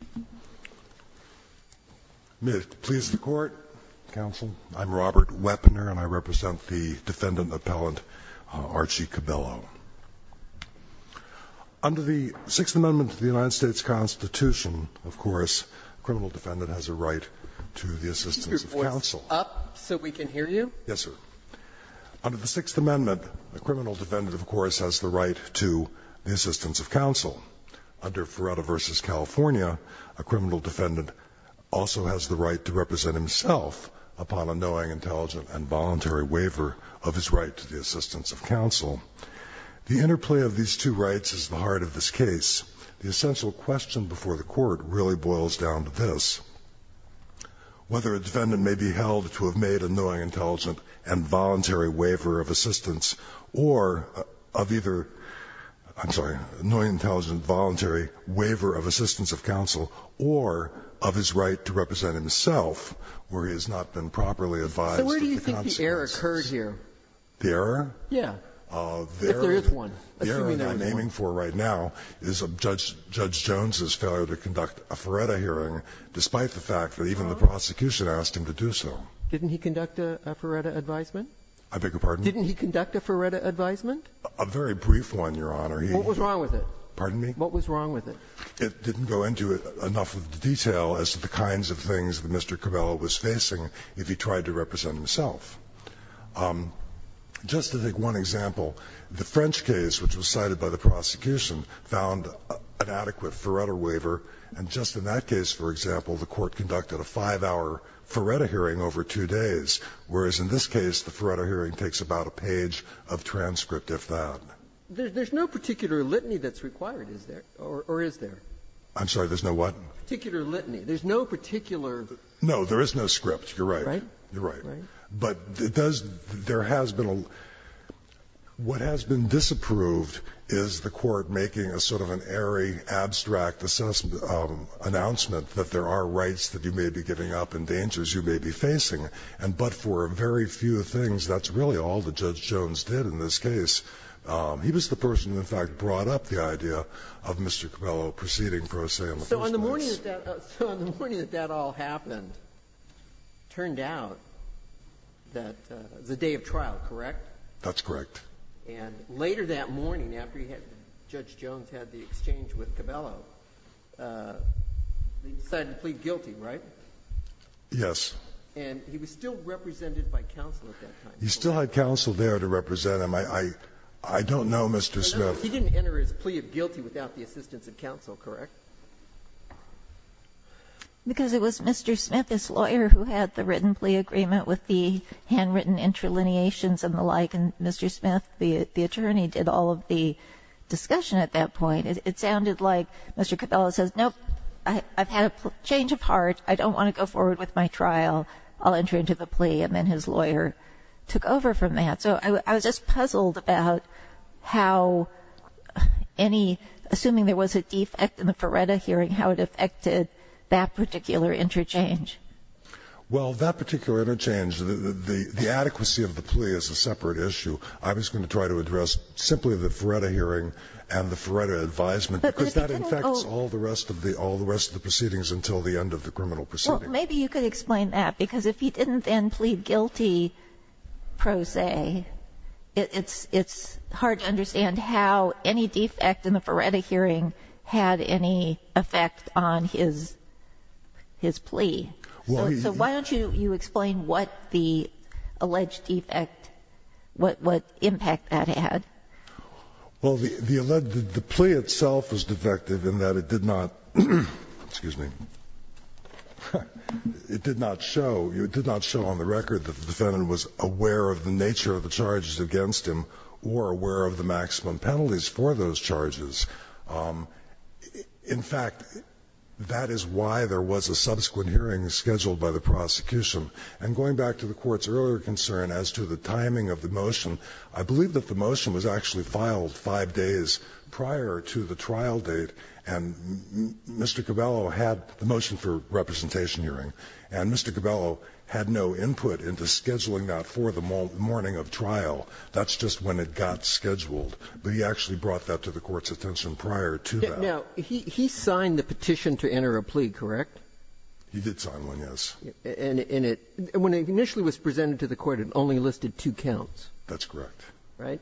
Robert Wepner May it please the Court, counsel, I'm Robert Wepner and I represent the defendant appellant Archie Cabello. Under the Sixth Amendment to the United States Constitution, of course, a criminal defendant has a right to the assistance of counsel. Under the Sixth Amendment, a criminal defendant, of course, has the right to the assistance of counsel. A criminal defendant also has the right to represent himself upon a knowing, intelligent, and voluntary waiver of his right to the assistance of counsel. The interplay of these two rights is the heart of this case. The essential question before the Court really boils down to this. Whether a defendant may be held to have made a knowing, intelligent, and voluntary waiver of assistance or of either, I'm sorry, a knowing, intelligent, voluntary waiver of assistance of counsel or of his right to represent himself where he has not been properly advised of the consequences. Sotomayor So where do you think the error occurred here? O'Connell The error? Sotomayor Yes. If there is one. O'Connell The error I'm aiming for right now is Judge Jones's failure to conduct a Ferretta hearing despite the fact that even the prosecution asked him to do so. Sotomayor Didn't he conduct a Ferretta advisement? O'Connell I beg your pardon? Sotomayor Didn't he conduct a Ferretta advisement? O'Connell A very brief one, Your Honor. Sotomayor What was wrong with it? O'Connell Pardon me? Sotomayor What was wrong with it? O'Connell It didn't go into enough of the detail as to the kinds of things that Mr. Cabella was facing if he tried to represent himself. Just to take one example, the French case, which was cited by the prosecution, found an adequate Ferretta waiver, and just in that case, for example, the Court conducted a 5-hour Ferretta hearing over 2 days, whereas in this case the Ferretta hearing takes about a page of transcript, if that. There's no particular litany that's required, is there? Or is there? O'Connell I'm sorry, there's no what? Sotomayor Particular litany. There's no particular. O'Connell No. There is no script. You're right. Sotomayor Right. O'Connell You're right. Sotomayor Right. O'Connell But it does – there has been a – what has been disapproved is the Court making a sort of an airy, abstract announcement that there are rights that you may be giving up and dangers you may be facing. And but for a very few things, that's really all that Judge Jones did in this case. He was the person who, in fact, brought up the idea of Mr. Cabello proceeding for a say on the first case. Sotomayor So on the morning that that all happened, it turned out that it was a day of trial, correct? O'Connell That's correct. Sotomayor And later that morning, after he had – Judge Jones had the exchange with Cabello, he decided to plead guilty, right? O'Connell Yes. Sotomayor And he was still represented by counsel at that time. Judge Jones He still had counsel there to represent him. I don't know, Mr. Smith. Sotomayor He didn't enter his plea of guilty without the assistance of counsel, correct? O'Connell Because it was Mr. Smith, his lawyer, who had the written plea agreement with the handwritten interlineations and the like, and Mr. Smith, the attorney, did all of the discussion at that point. It sounded like Mr. Cabello says, nope, I've had a change of heart. I don't want to go forward with my trial. I'll enter into the plea. And then his lawyer took over from that. So I was just puzzled about how any – assuming there was a defect in the Feretta hearing, how it affected that particular interchange. O'Connell Well, that particular interchange, the adequacy of the plea is a separate issue. I was going to try to address simply the Feretta hearing and the Feretta advisement because that infects all the rest of the proceedings until the end of the criminal proceeding. Kagan Well, maybe you could explain that because if he didn't then plead guilty pro se, it's hard to understand how any defect in the Feretta hearing had any effect on his plea. So why don't you explain what the alleged defect, what impact that had? O'Connell Well, the alleged, the plea itself was defective in that it did not, excuse me, it did not show, it did not show on the record that the defendant was aware of the nature of the charges against him or aware of the maximum penalties for those charges. In fact, that is why there was a subsequent hearing scheduled by the prosecution. And going back to the Court's earlier concern as to the timing of the motion, I believe it was actually filed five days prior to the trial date, and Mr. Cabello had the motion for representation hearing. And Mr. Cabello had no input into scheduling that for the morning of trial. That's just when it got scheduled. But he actually brought that to the Court's attention prior to that. Robertson Now, he signed the petition to enter a plea, correct? O'Connell He did sign one, yes. Robertson And it, when it initially was presented to the Court, it only listed two counts. O'Connell That's correct. Robertson Right?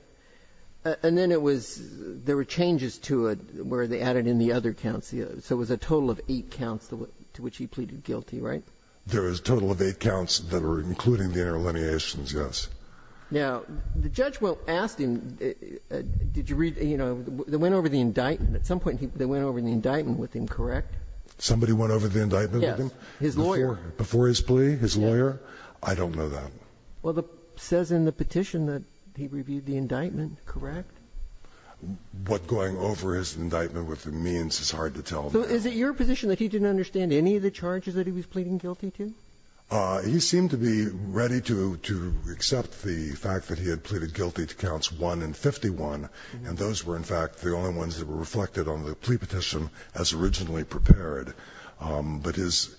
And then it was, there were changes to it where they added in the other counts. So it was a total of eight counts to which he pleaded guilty, right? O'Connell There was a total of eight counts that were including the interlineations, yes. Robertson Now, the judge, well, asked him, did you read, you know, they went over the indictment. At some point they went over the indictment with him, correct? O'Connell Somebody went over the indictment with him? Robertson Yes, his lawyer. O'Connell Before his plea, his lawyer? I don't know that. Well, it says in the petition that he reviewed the indictment, correct? O'Connell What going over his indictment with him means is hard to tell. Robertson So is it your position that he didn't understand any of the charges that he was pleading guilty to? O'Connell He seemed to be ready to accept the fact that he had pleaded guilty to counts 1 and 51, and those were, in fact, the only ones that were reflected on the plea petition as originally prepared. But his,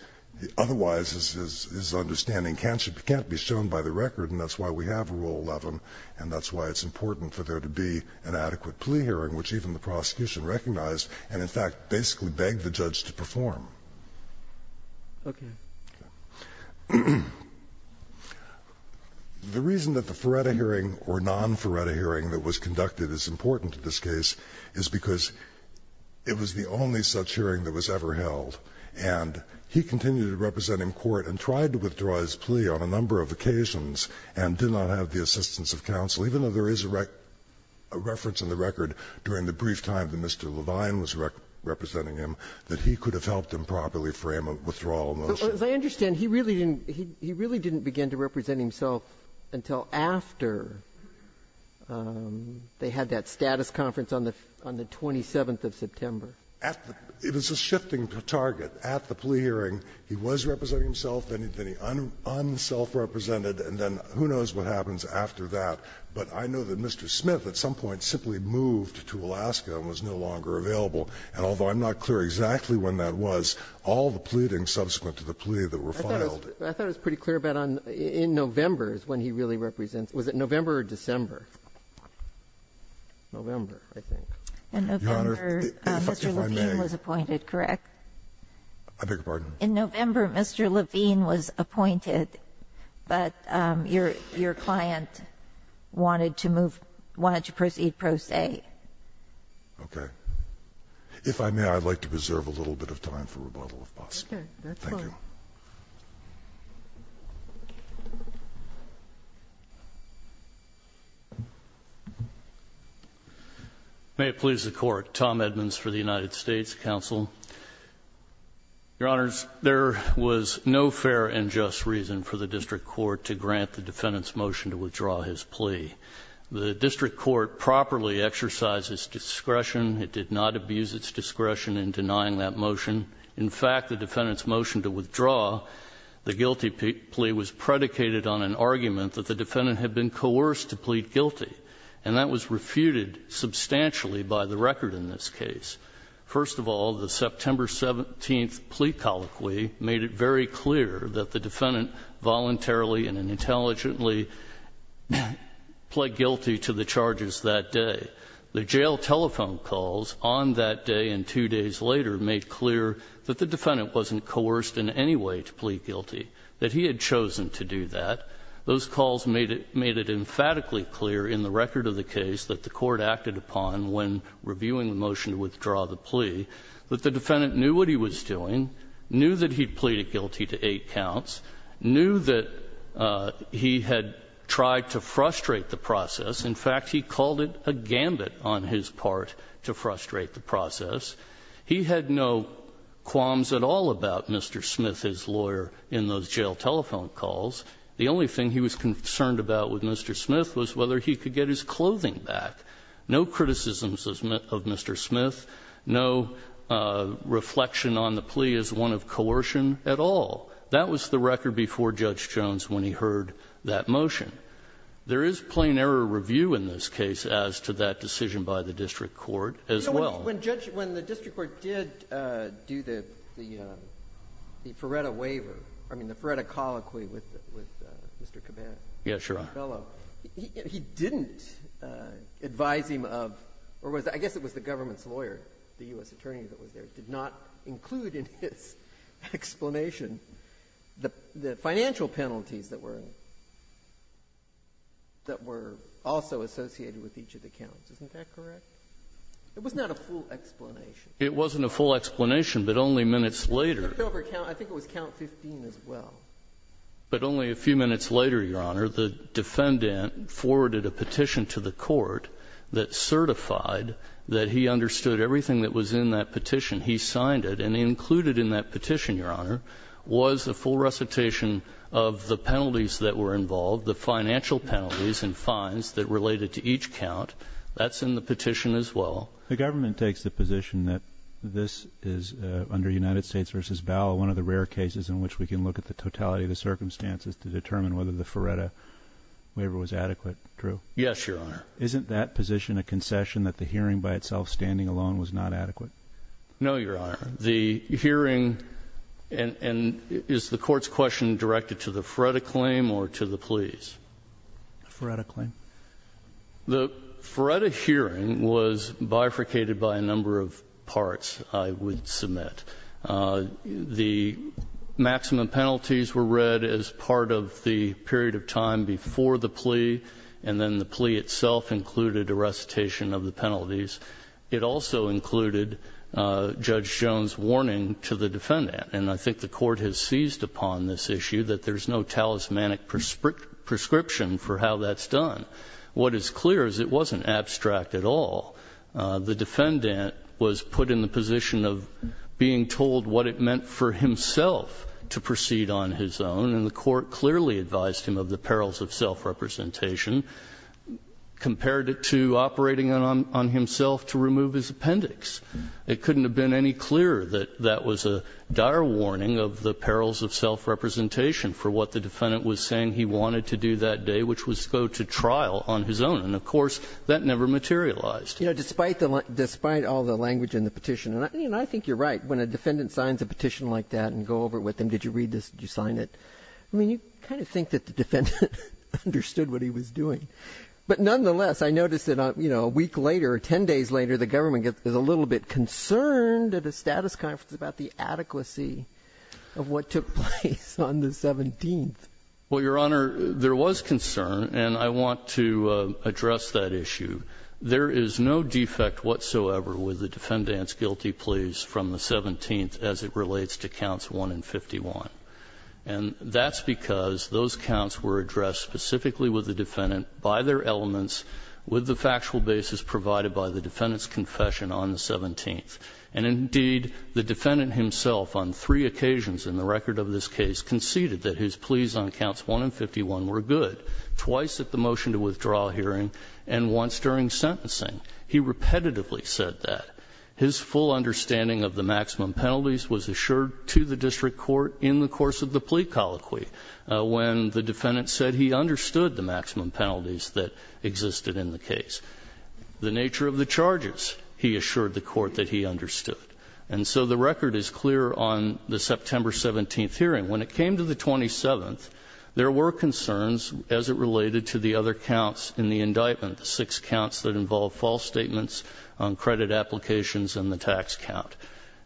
otherwise, his understanding can't be shown by the record, and that's why we have Rule 11, and that's why it's important for there to be an adequate plea hearing, which even the prosecution recognized and, in fact, basically begged the judge to perform. The reason that the Feretta hearing or non-Feretta hearing that was conducted is important in this case is because it was the only such hearing that was ever held and he continued to represent him in court and tried to withdraw his plea on a number of occasions and did not have the assistance of counsel, even though there is a reference in the record during the brief time that Mr. Levine was representing him that he could have helped him properly frame a withdrawal motion. Ginsburg As I understand, he really didn't begin to represent himself until after they had that status conference on the 27th of September. It was a shifting target. At the plea hearing, he was representing himself, then he unselfrepresented, and then who knows what happens after that. But I know that Mr. Smith at some point simply moved to Alaska and was no longer available, and although I'm not clear exactly when that was, all the pleading subsequent to the plea that were filed. I thought it was pretty clear about in November is when he really represents himself, was it November or December? November, I think. Your Honor, if I may. In November, Mr. Levine was appointed, correct? I beg your pardon? In November, Mr. Levine was appointed, but your client wanted to move, wanted to proceed post A. Okay. If I may, I'd like to preserve a little bit of time for rebuttal, if possible. Okay. That's fine. Thank you. May it please the Court. Tom Edmonds for the United States Counsel. Your Honors, there was no fair and just reason for the district court to grant the defendant's motion to withdraw his plea. The district court properly exercised its discretion. It did not abuse its discretion in denying that motion. In fact, the defendant's motion to withdraw the guilty plea was predicated on an argument that the defendant had been coerced to plead guilty, and that was refuted substantially by the record in this case. First of all, the September 17th plea colloquy made it very clear that the defendant voluntarily and intelligently pled guilty to the charges that day. That the jail telephone calls on that day and two days later made clear that the defendant wasn't coerced in any way to plead guilty, that he had chosen to do that. Those calls made it emphatically clear in the record of the case that the court acted upon when reviewing the motion to withdraw the plea that the defendant knew what he was doing, knew that he had pleaded guilty to eight counts, knew that he had tried to frustrate the process. In fact, he called it a gambit on his part to frustrate the process. He had no qualms at all about Mr. Smith, his lawyer, in those jail telephone calls. The only thing he was concerned about with Mr. Smith was whether he could get his clothing back. No criticisms of Mr. Smith. No reflection on the plea as one of coercion at all. That was the record before Judge Jones when he heard that motion. There is plain error review in this case as to that decision by the district court as well. When the district court did do the Ferretta waiver, I mean the Ferretta colloquy with Mr. Caban. Yes, Your Honor. He didn't advise him of, or I guess it was the government's lawyer, the U.S. attorney that was there, did not include in his explanation the financial penalties that were also associated with each of the counts. Isn't that correct? It was not a full explanation. It wasn't a full explanation, but only minutes later. I think it was count 15 as well. But only a few minutes later, Your Honor, the defendant forwarded a petition to the court that certified that he understood everything that was in that petition. He signed it. And included in that petition, Your Honor, was a full recitation of the penalties that were involved, the financial penalties and fines that related to each count. That's in the petition as well. The government takes the position that this is, under United States v. Bauer, one of the rare cases in which we can look at the totality of the circumstances to determine whether the Ferretta waiver was adequate, true? Yes, Your Honor. Isn't that position a concession that the hearing by itself, standing alone, was not adequate? No, Your Honor. The hearing and is the court's question directed to the Ferretta claim or to the pleas? The Ferretta claim. The Ferretta hearing was bifurcated by a number of parts, I would submit. The maximum penalties were read as part of the period of time before the plea, and then the plea itself included a recitation of the penalties. It also included Judge Jones' warning to the defendant, and I think the court has seized upon this issue that there's no talismanic prescription for how that's done. What is clear is it wasn't abstract at all. The defendant was put in the position of being told what it meant for himself to proceed on his own, and the court clearly advised him of the perils of appendix. It couldn't have been any clearer that that was a dire warning of the perils of self-representation for what the defendant was saying he wanted to do that day, which was go to trial on his own. And of course, that never materialized. You know, despite all the language in the petition, and I think you're right, when a defendant signs a petition like that and go over it with them, did you read this, did you sign it, I mean, you kind of think that the defendant understood what he was doing. But nonetheless, I noticed that, you know, a week later or ten days later, the government is a little bit concerned at a status conference about the adequacy of what took place on the 17th. Well, Your Honor, there was concern, and I want to address that issue. There is no defect whatsoever with the defendant's guilty pleas from the 17th as it relates to counts 1 and 51. And that's because those counts were addressed specifically with the defendant by their elements with the factual basis provided by the defendant's confession on the 17th. And indeed, the defendant himself on three occasions in the record of this case conceded that his pleas on counts 1 and 51 were good, twice at the motion to withdraw hearing and once during sentencing. He repetitively said that. His full understanding of the maximum penalties was assured to the district court in the course of the plea colloquy when the defendant said he understood the maximum penalties that existed in the case. The nature of the charges, he assured the court that he understood. And so the record is clear on the September 17th hearing. When it came to the 27th, there were concerns as it related to the other counts in the indictment, the six counts that involved false statements on credit applications and the tax count.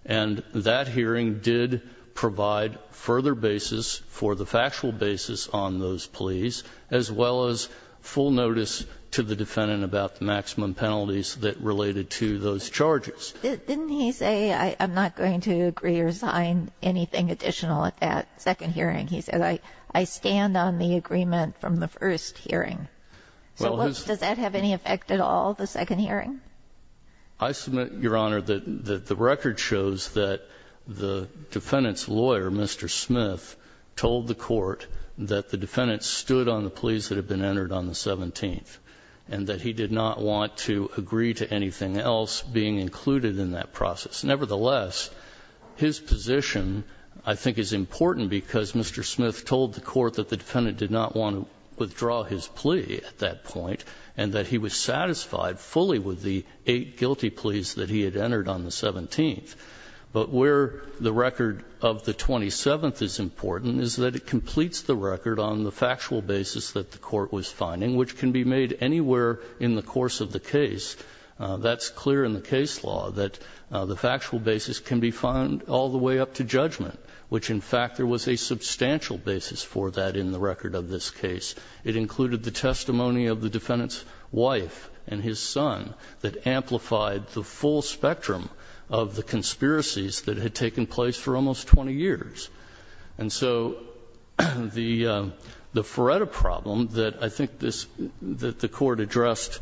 And that hearing did provide further basis for the factual basis on those pleas as well as full notice to the defendant about the maximum penalties that related to those charges. Didn't he say, I'm not going to agree or resign anything additional at that second hearing? He said, I stand on the agreement from the first hearing. So does that have any effect at all, the second hearing? I submit, Your Honor, that the record shows that the defendant's lawyer, Mr. Smith, told the court that the defendant stood on the pleas that had been entered on the 17th and that he did not want to agree to anything else being included in that process. Nevertheless, his position, I think, is important because Mr. Smith told the court that the defendant did not want to withdraw his plea at that point and that he was satisfied fully with the eight guilty pleas that he had entered on the 17th. But where the record of the 27th is important is that it completes the record on the factual basis that the court was finding, which can be made anywhere in the course of the case. That's clear in the case law, that the factual basis can be found all the way up to judgment, which, in fact, there was a substantial basis for that in the record of this case. It included the testimony of the defendant's wife and his son that amplified the full spectrum of the conspiracies that had taken place for almost 20 years. And so the Ferretta problem that I think this the court addressed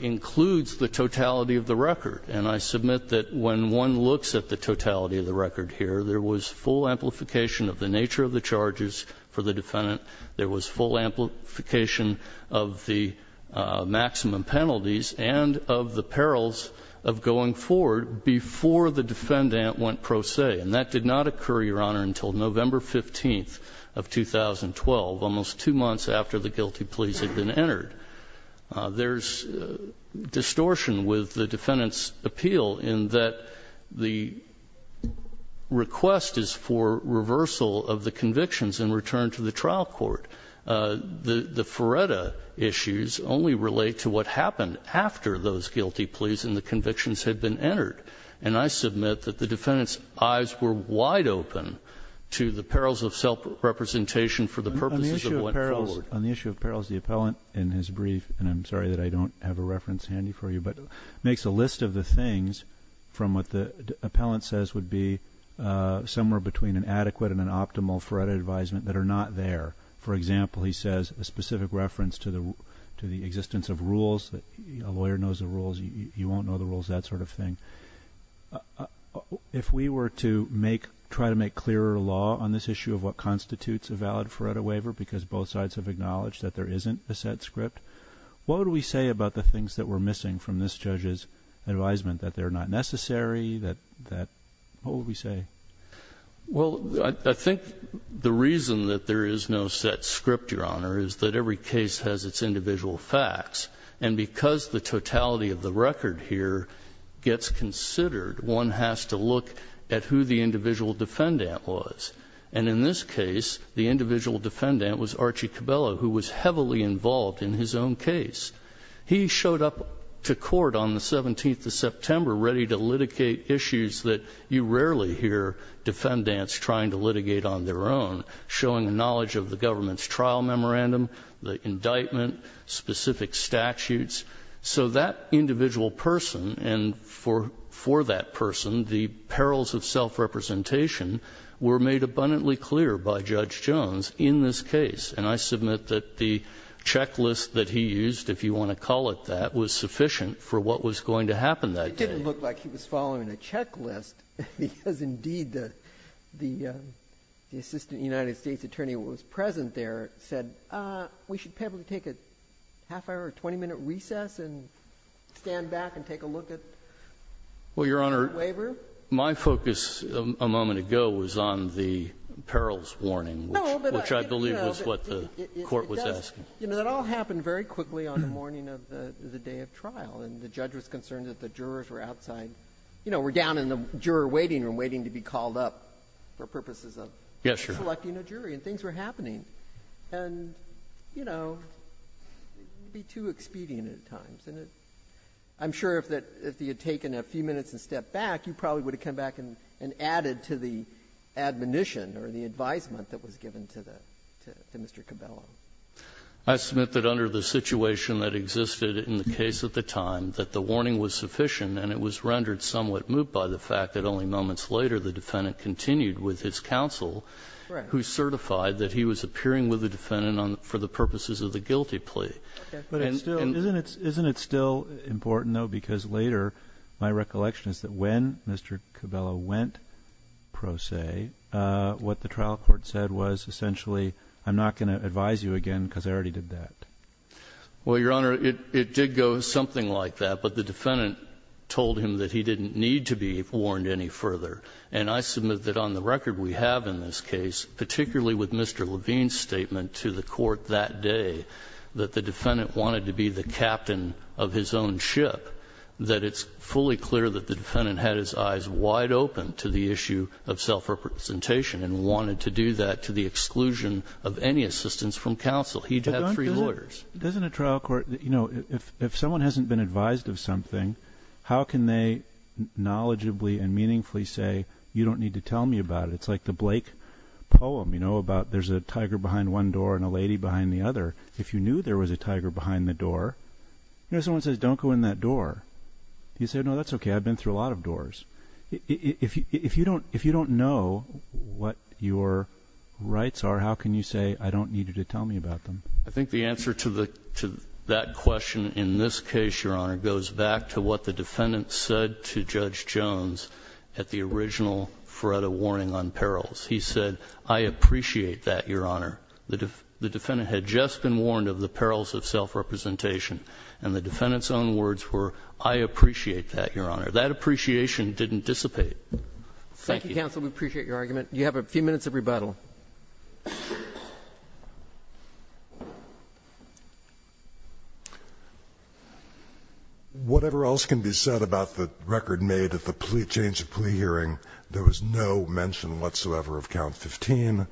includes the totality of the record. And I submit that when one looks at the totality of the record here, there was full amplification of the nature of the charges for the defendant, there was full amplification of the maximum penalties and of the perils of going forward before the defendant went pro se. And that did not occur, Your Honor, until November 15th of 2012, almost two months after the guilty pleas had been entered. There's distortion with the defendant's appeal in that the request is for reversal of the convictions in return to the trial court. The Ferretta issues only relate to what happened after those guilty pleas and the convictions had been entered. And I submit that the defendant's eyes were wide open to the perils of self-representation for the purposes of going forward. On the issue of perils, the appellant in his brief, and I'm sorry that I don't have a reference handy for you, but makes a list of the things from what the appellant says would be somewhere between an adequate and an optimal Ferretta advisement that are not there. For example, he says a specific reference to the existence of rules, a lawyer knows the rules, you won't know the rules, that sort of thing. If we were to make, try to make clearer law on this issue of what constitutes a valid Ferretta waiver because both sides have acknowledged that there isn't a set script, what would we say about the things that were missing from this judge's advisement, that they're not necessary, that, what would we say? Well, I think the reason that there is no set script, Your Honor, is that every case has its individual facts. And because the totality of the record here gets considered, one has to look at who the individual defendant was. And in this case, the individual defendant was Archie Cabello, who was heavily involved in his own case. He showed up to court on the 17th of September ready to litigate issues that you rarely hear defendants trying to litigate on their own, showing knowledge of the government's trial memorandum, the indictment, specific statutes. So that individual person and for that person, the perils of self-representation were made abundantly clear by Judge Jones in this case. And I submit that the checklist that he used, if you want to call it that, was sufficient for what was going to happen that day. It didn't look like he was following a checklist because, indeed, the Assistant United States Attorney who was present there said, we should probably take a half hour or 20-minute recess and stand back and take a look at the waiver. Well, Your Honor, my focus a moment ago was on the perils warning, which I believe was what the court was asking. It does. And the judge was concerned that the jurors were outside, you know, were down in the juror waiting room waiting to be called up for purposes of selecting a jury, and things were happening. And, you know, it would be too expedient at times. And I'm sure if he had taken a few minutes and stepped back, you probably would have come back and added to the admonition or the advisement that was given to Mr. Cabello. I submit that under the situation that existed in the case at the time, that the warning was sufficient and it was rendered somewhat moot by the fact that only moments later the defendant continued with his counsel who certified that he was appearing with the defendant for the purposes of the guilty plea. Isn't it still important, though, because later my recollection is that when Mr. Cabello went, pro se, what the trial court said was essentially, I'm not going to advise you again because I already did that. Well, Your Honor, it did go something like that, but the defendant told him that he didn't need to be warned any further. And I submit that on the record we have in this case, particularly with Mr. Levine's statement to the Court that day that the defendant wanted to be the captain of his own ship, that it's fully clear that the defendant had his eyes wide open to the issue of self-representation and wanted to do that to the exclusion of any assistance from counsel. He had three lawyers. But doesn't a trial court, you know, if someone hasn't been advised of something, how can they knowledgeably and meaningfully say, you don't need to tell me about it? It's like the Blake poem, you know, about there's a tiger behind one door and a lady behind the other. If you knew there was a tiger behind the door, you know, someone says, don't go in that door. You say, no, that's okay. I've been through a lot of doors. If you don't know what your rights are, how can you say, I don't need you to tell me about them? I think the answer to that question in this case, Your Honor, goes back to what the defendant said to Judge Jones at the original FREDA warning on perils. He said, I appreciate that, Your Honor. The defendant had just been warned of the perils of self-representation. And the defendant's own words were, I appreciate that, Your Honor. That appreciation didn't dissipate. Thank you. Thank you, counsel. We appreciate your argument. You have a few minutes of rebuttal. Whatever else can be said about the record made at the change of plea hearing, there was no mention whatsoever of count 15,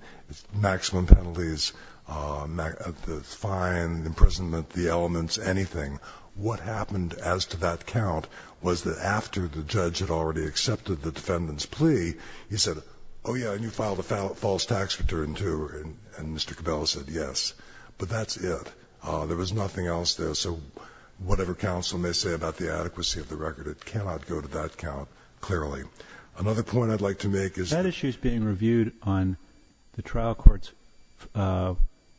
maximum penalties, the fine, imprisonment, the elements, anything. What happened as to that count was that after the judge had already accepted the defendant's plea, he said, oh, yeah, and you filed a false tax return, too. And Mr. Cabella said, yes. But that's it. There was nothing else there. So whatever counsel may say about the adequacy of the record, it cannot go to that count, clearly. Another point I'd like to make is that issue is being reviewed on the trial court's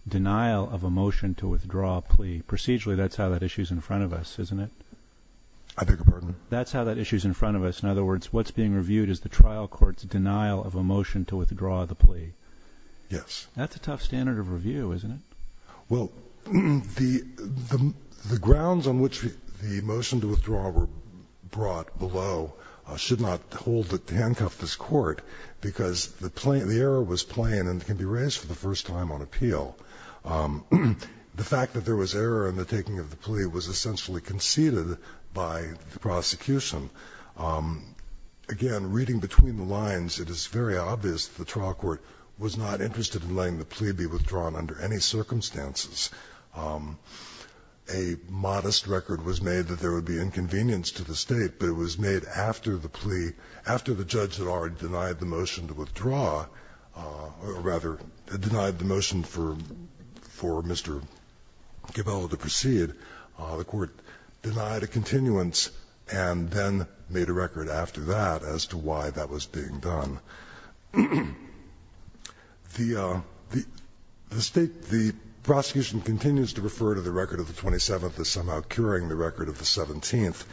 denial of a motion to withdraw a plea procedurally. Actually, that's how that issue is in front of us, isn't it? I beg your pardon? That's how that issue is in front of us. In other words, what's being reviewed is the trial court's denial of a motion to withdraw the plea. Yes. That's a tough standard of review, isn't it? Well, the grounds on which the motion to withdraw were brought below should not hold it to handcuff this court because the error was plain and can be raised for the first time on appeal. The fact that there was error in the taking of the plea was essentially conceded by the prosecution. Again, reading between the lines, it is very obvious that the trial court was not interested in letting the plea be withdrawn under any circumstances. A modest record was made that there would be inconvenience to the State, but it was made after the plea, after the judge had already denied the motion to withdraw or rather denied the motion for Mr. Gabella to proceed, the court denied a continuance and then made a record after that as to why that was being done. The State, the prosecution continues to refer to the record of the 27th as somehow curing the record of the 17th,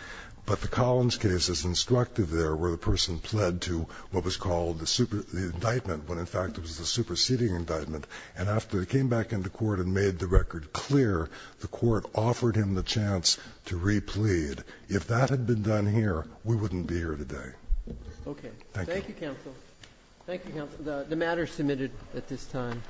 but the Collins case is instructive there where the indictment, when in fact it was the superseding indictment, and after it came back into court and made the record clear, the court offered him the chance to replead. If that had been done here, we wouldn't be here today. Thank you. Thank you, counsel. Thank you, counsel. The matter is submitted at this time.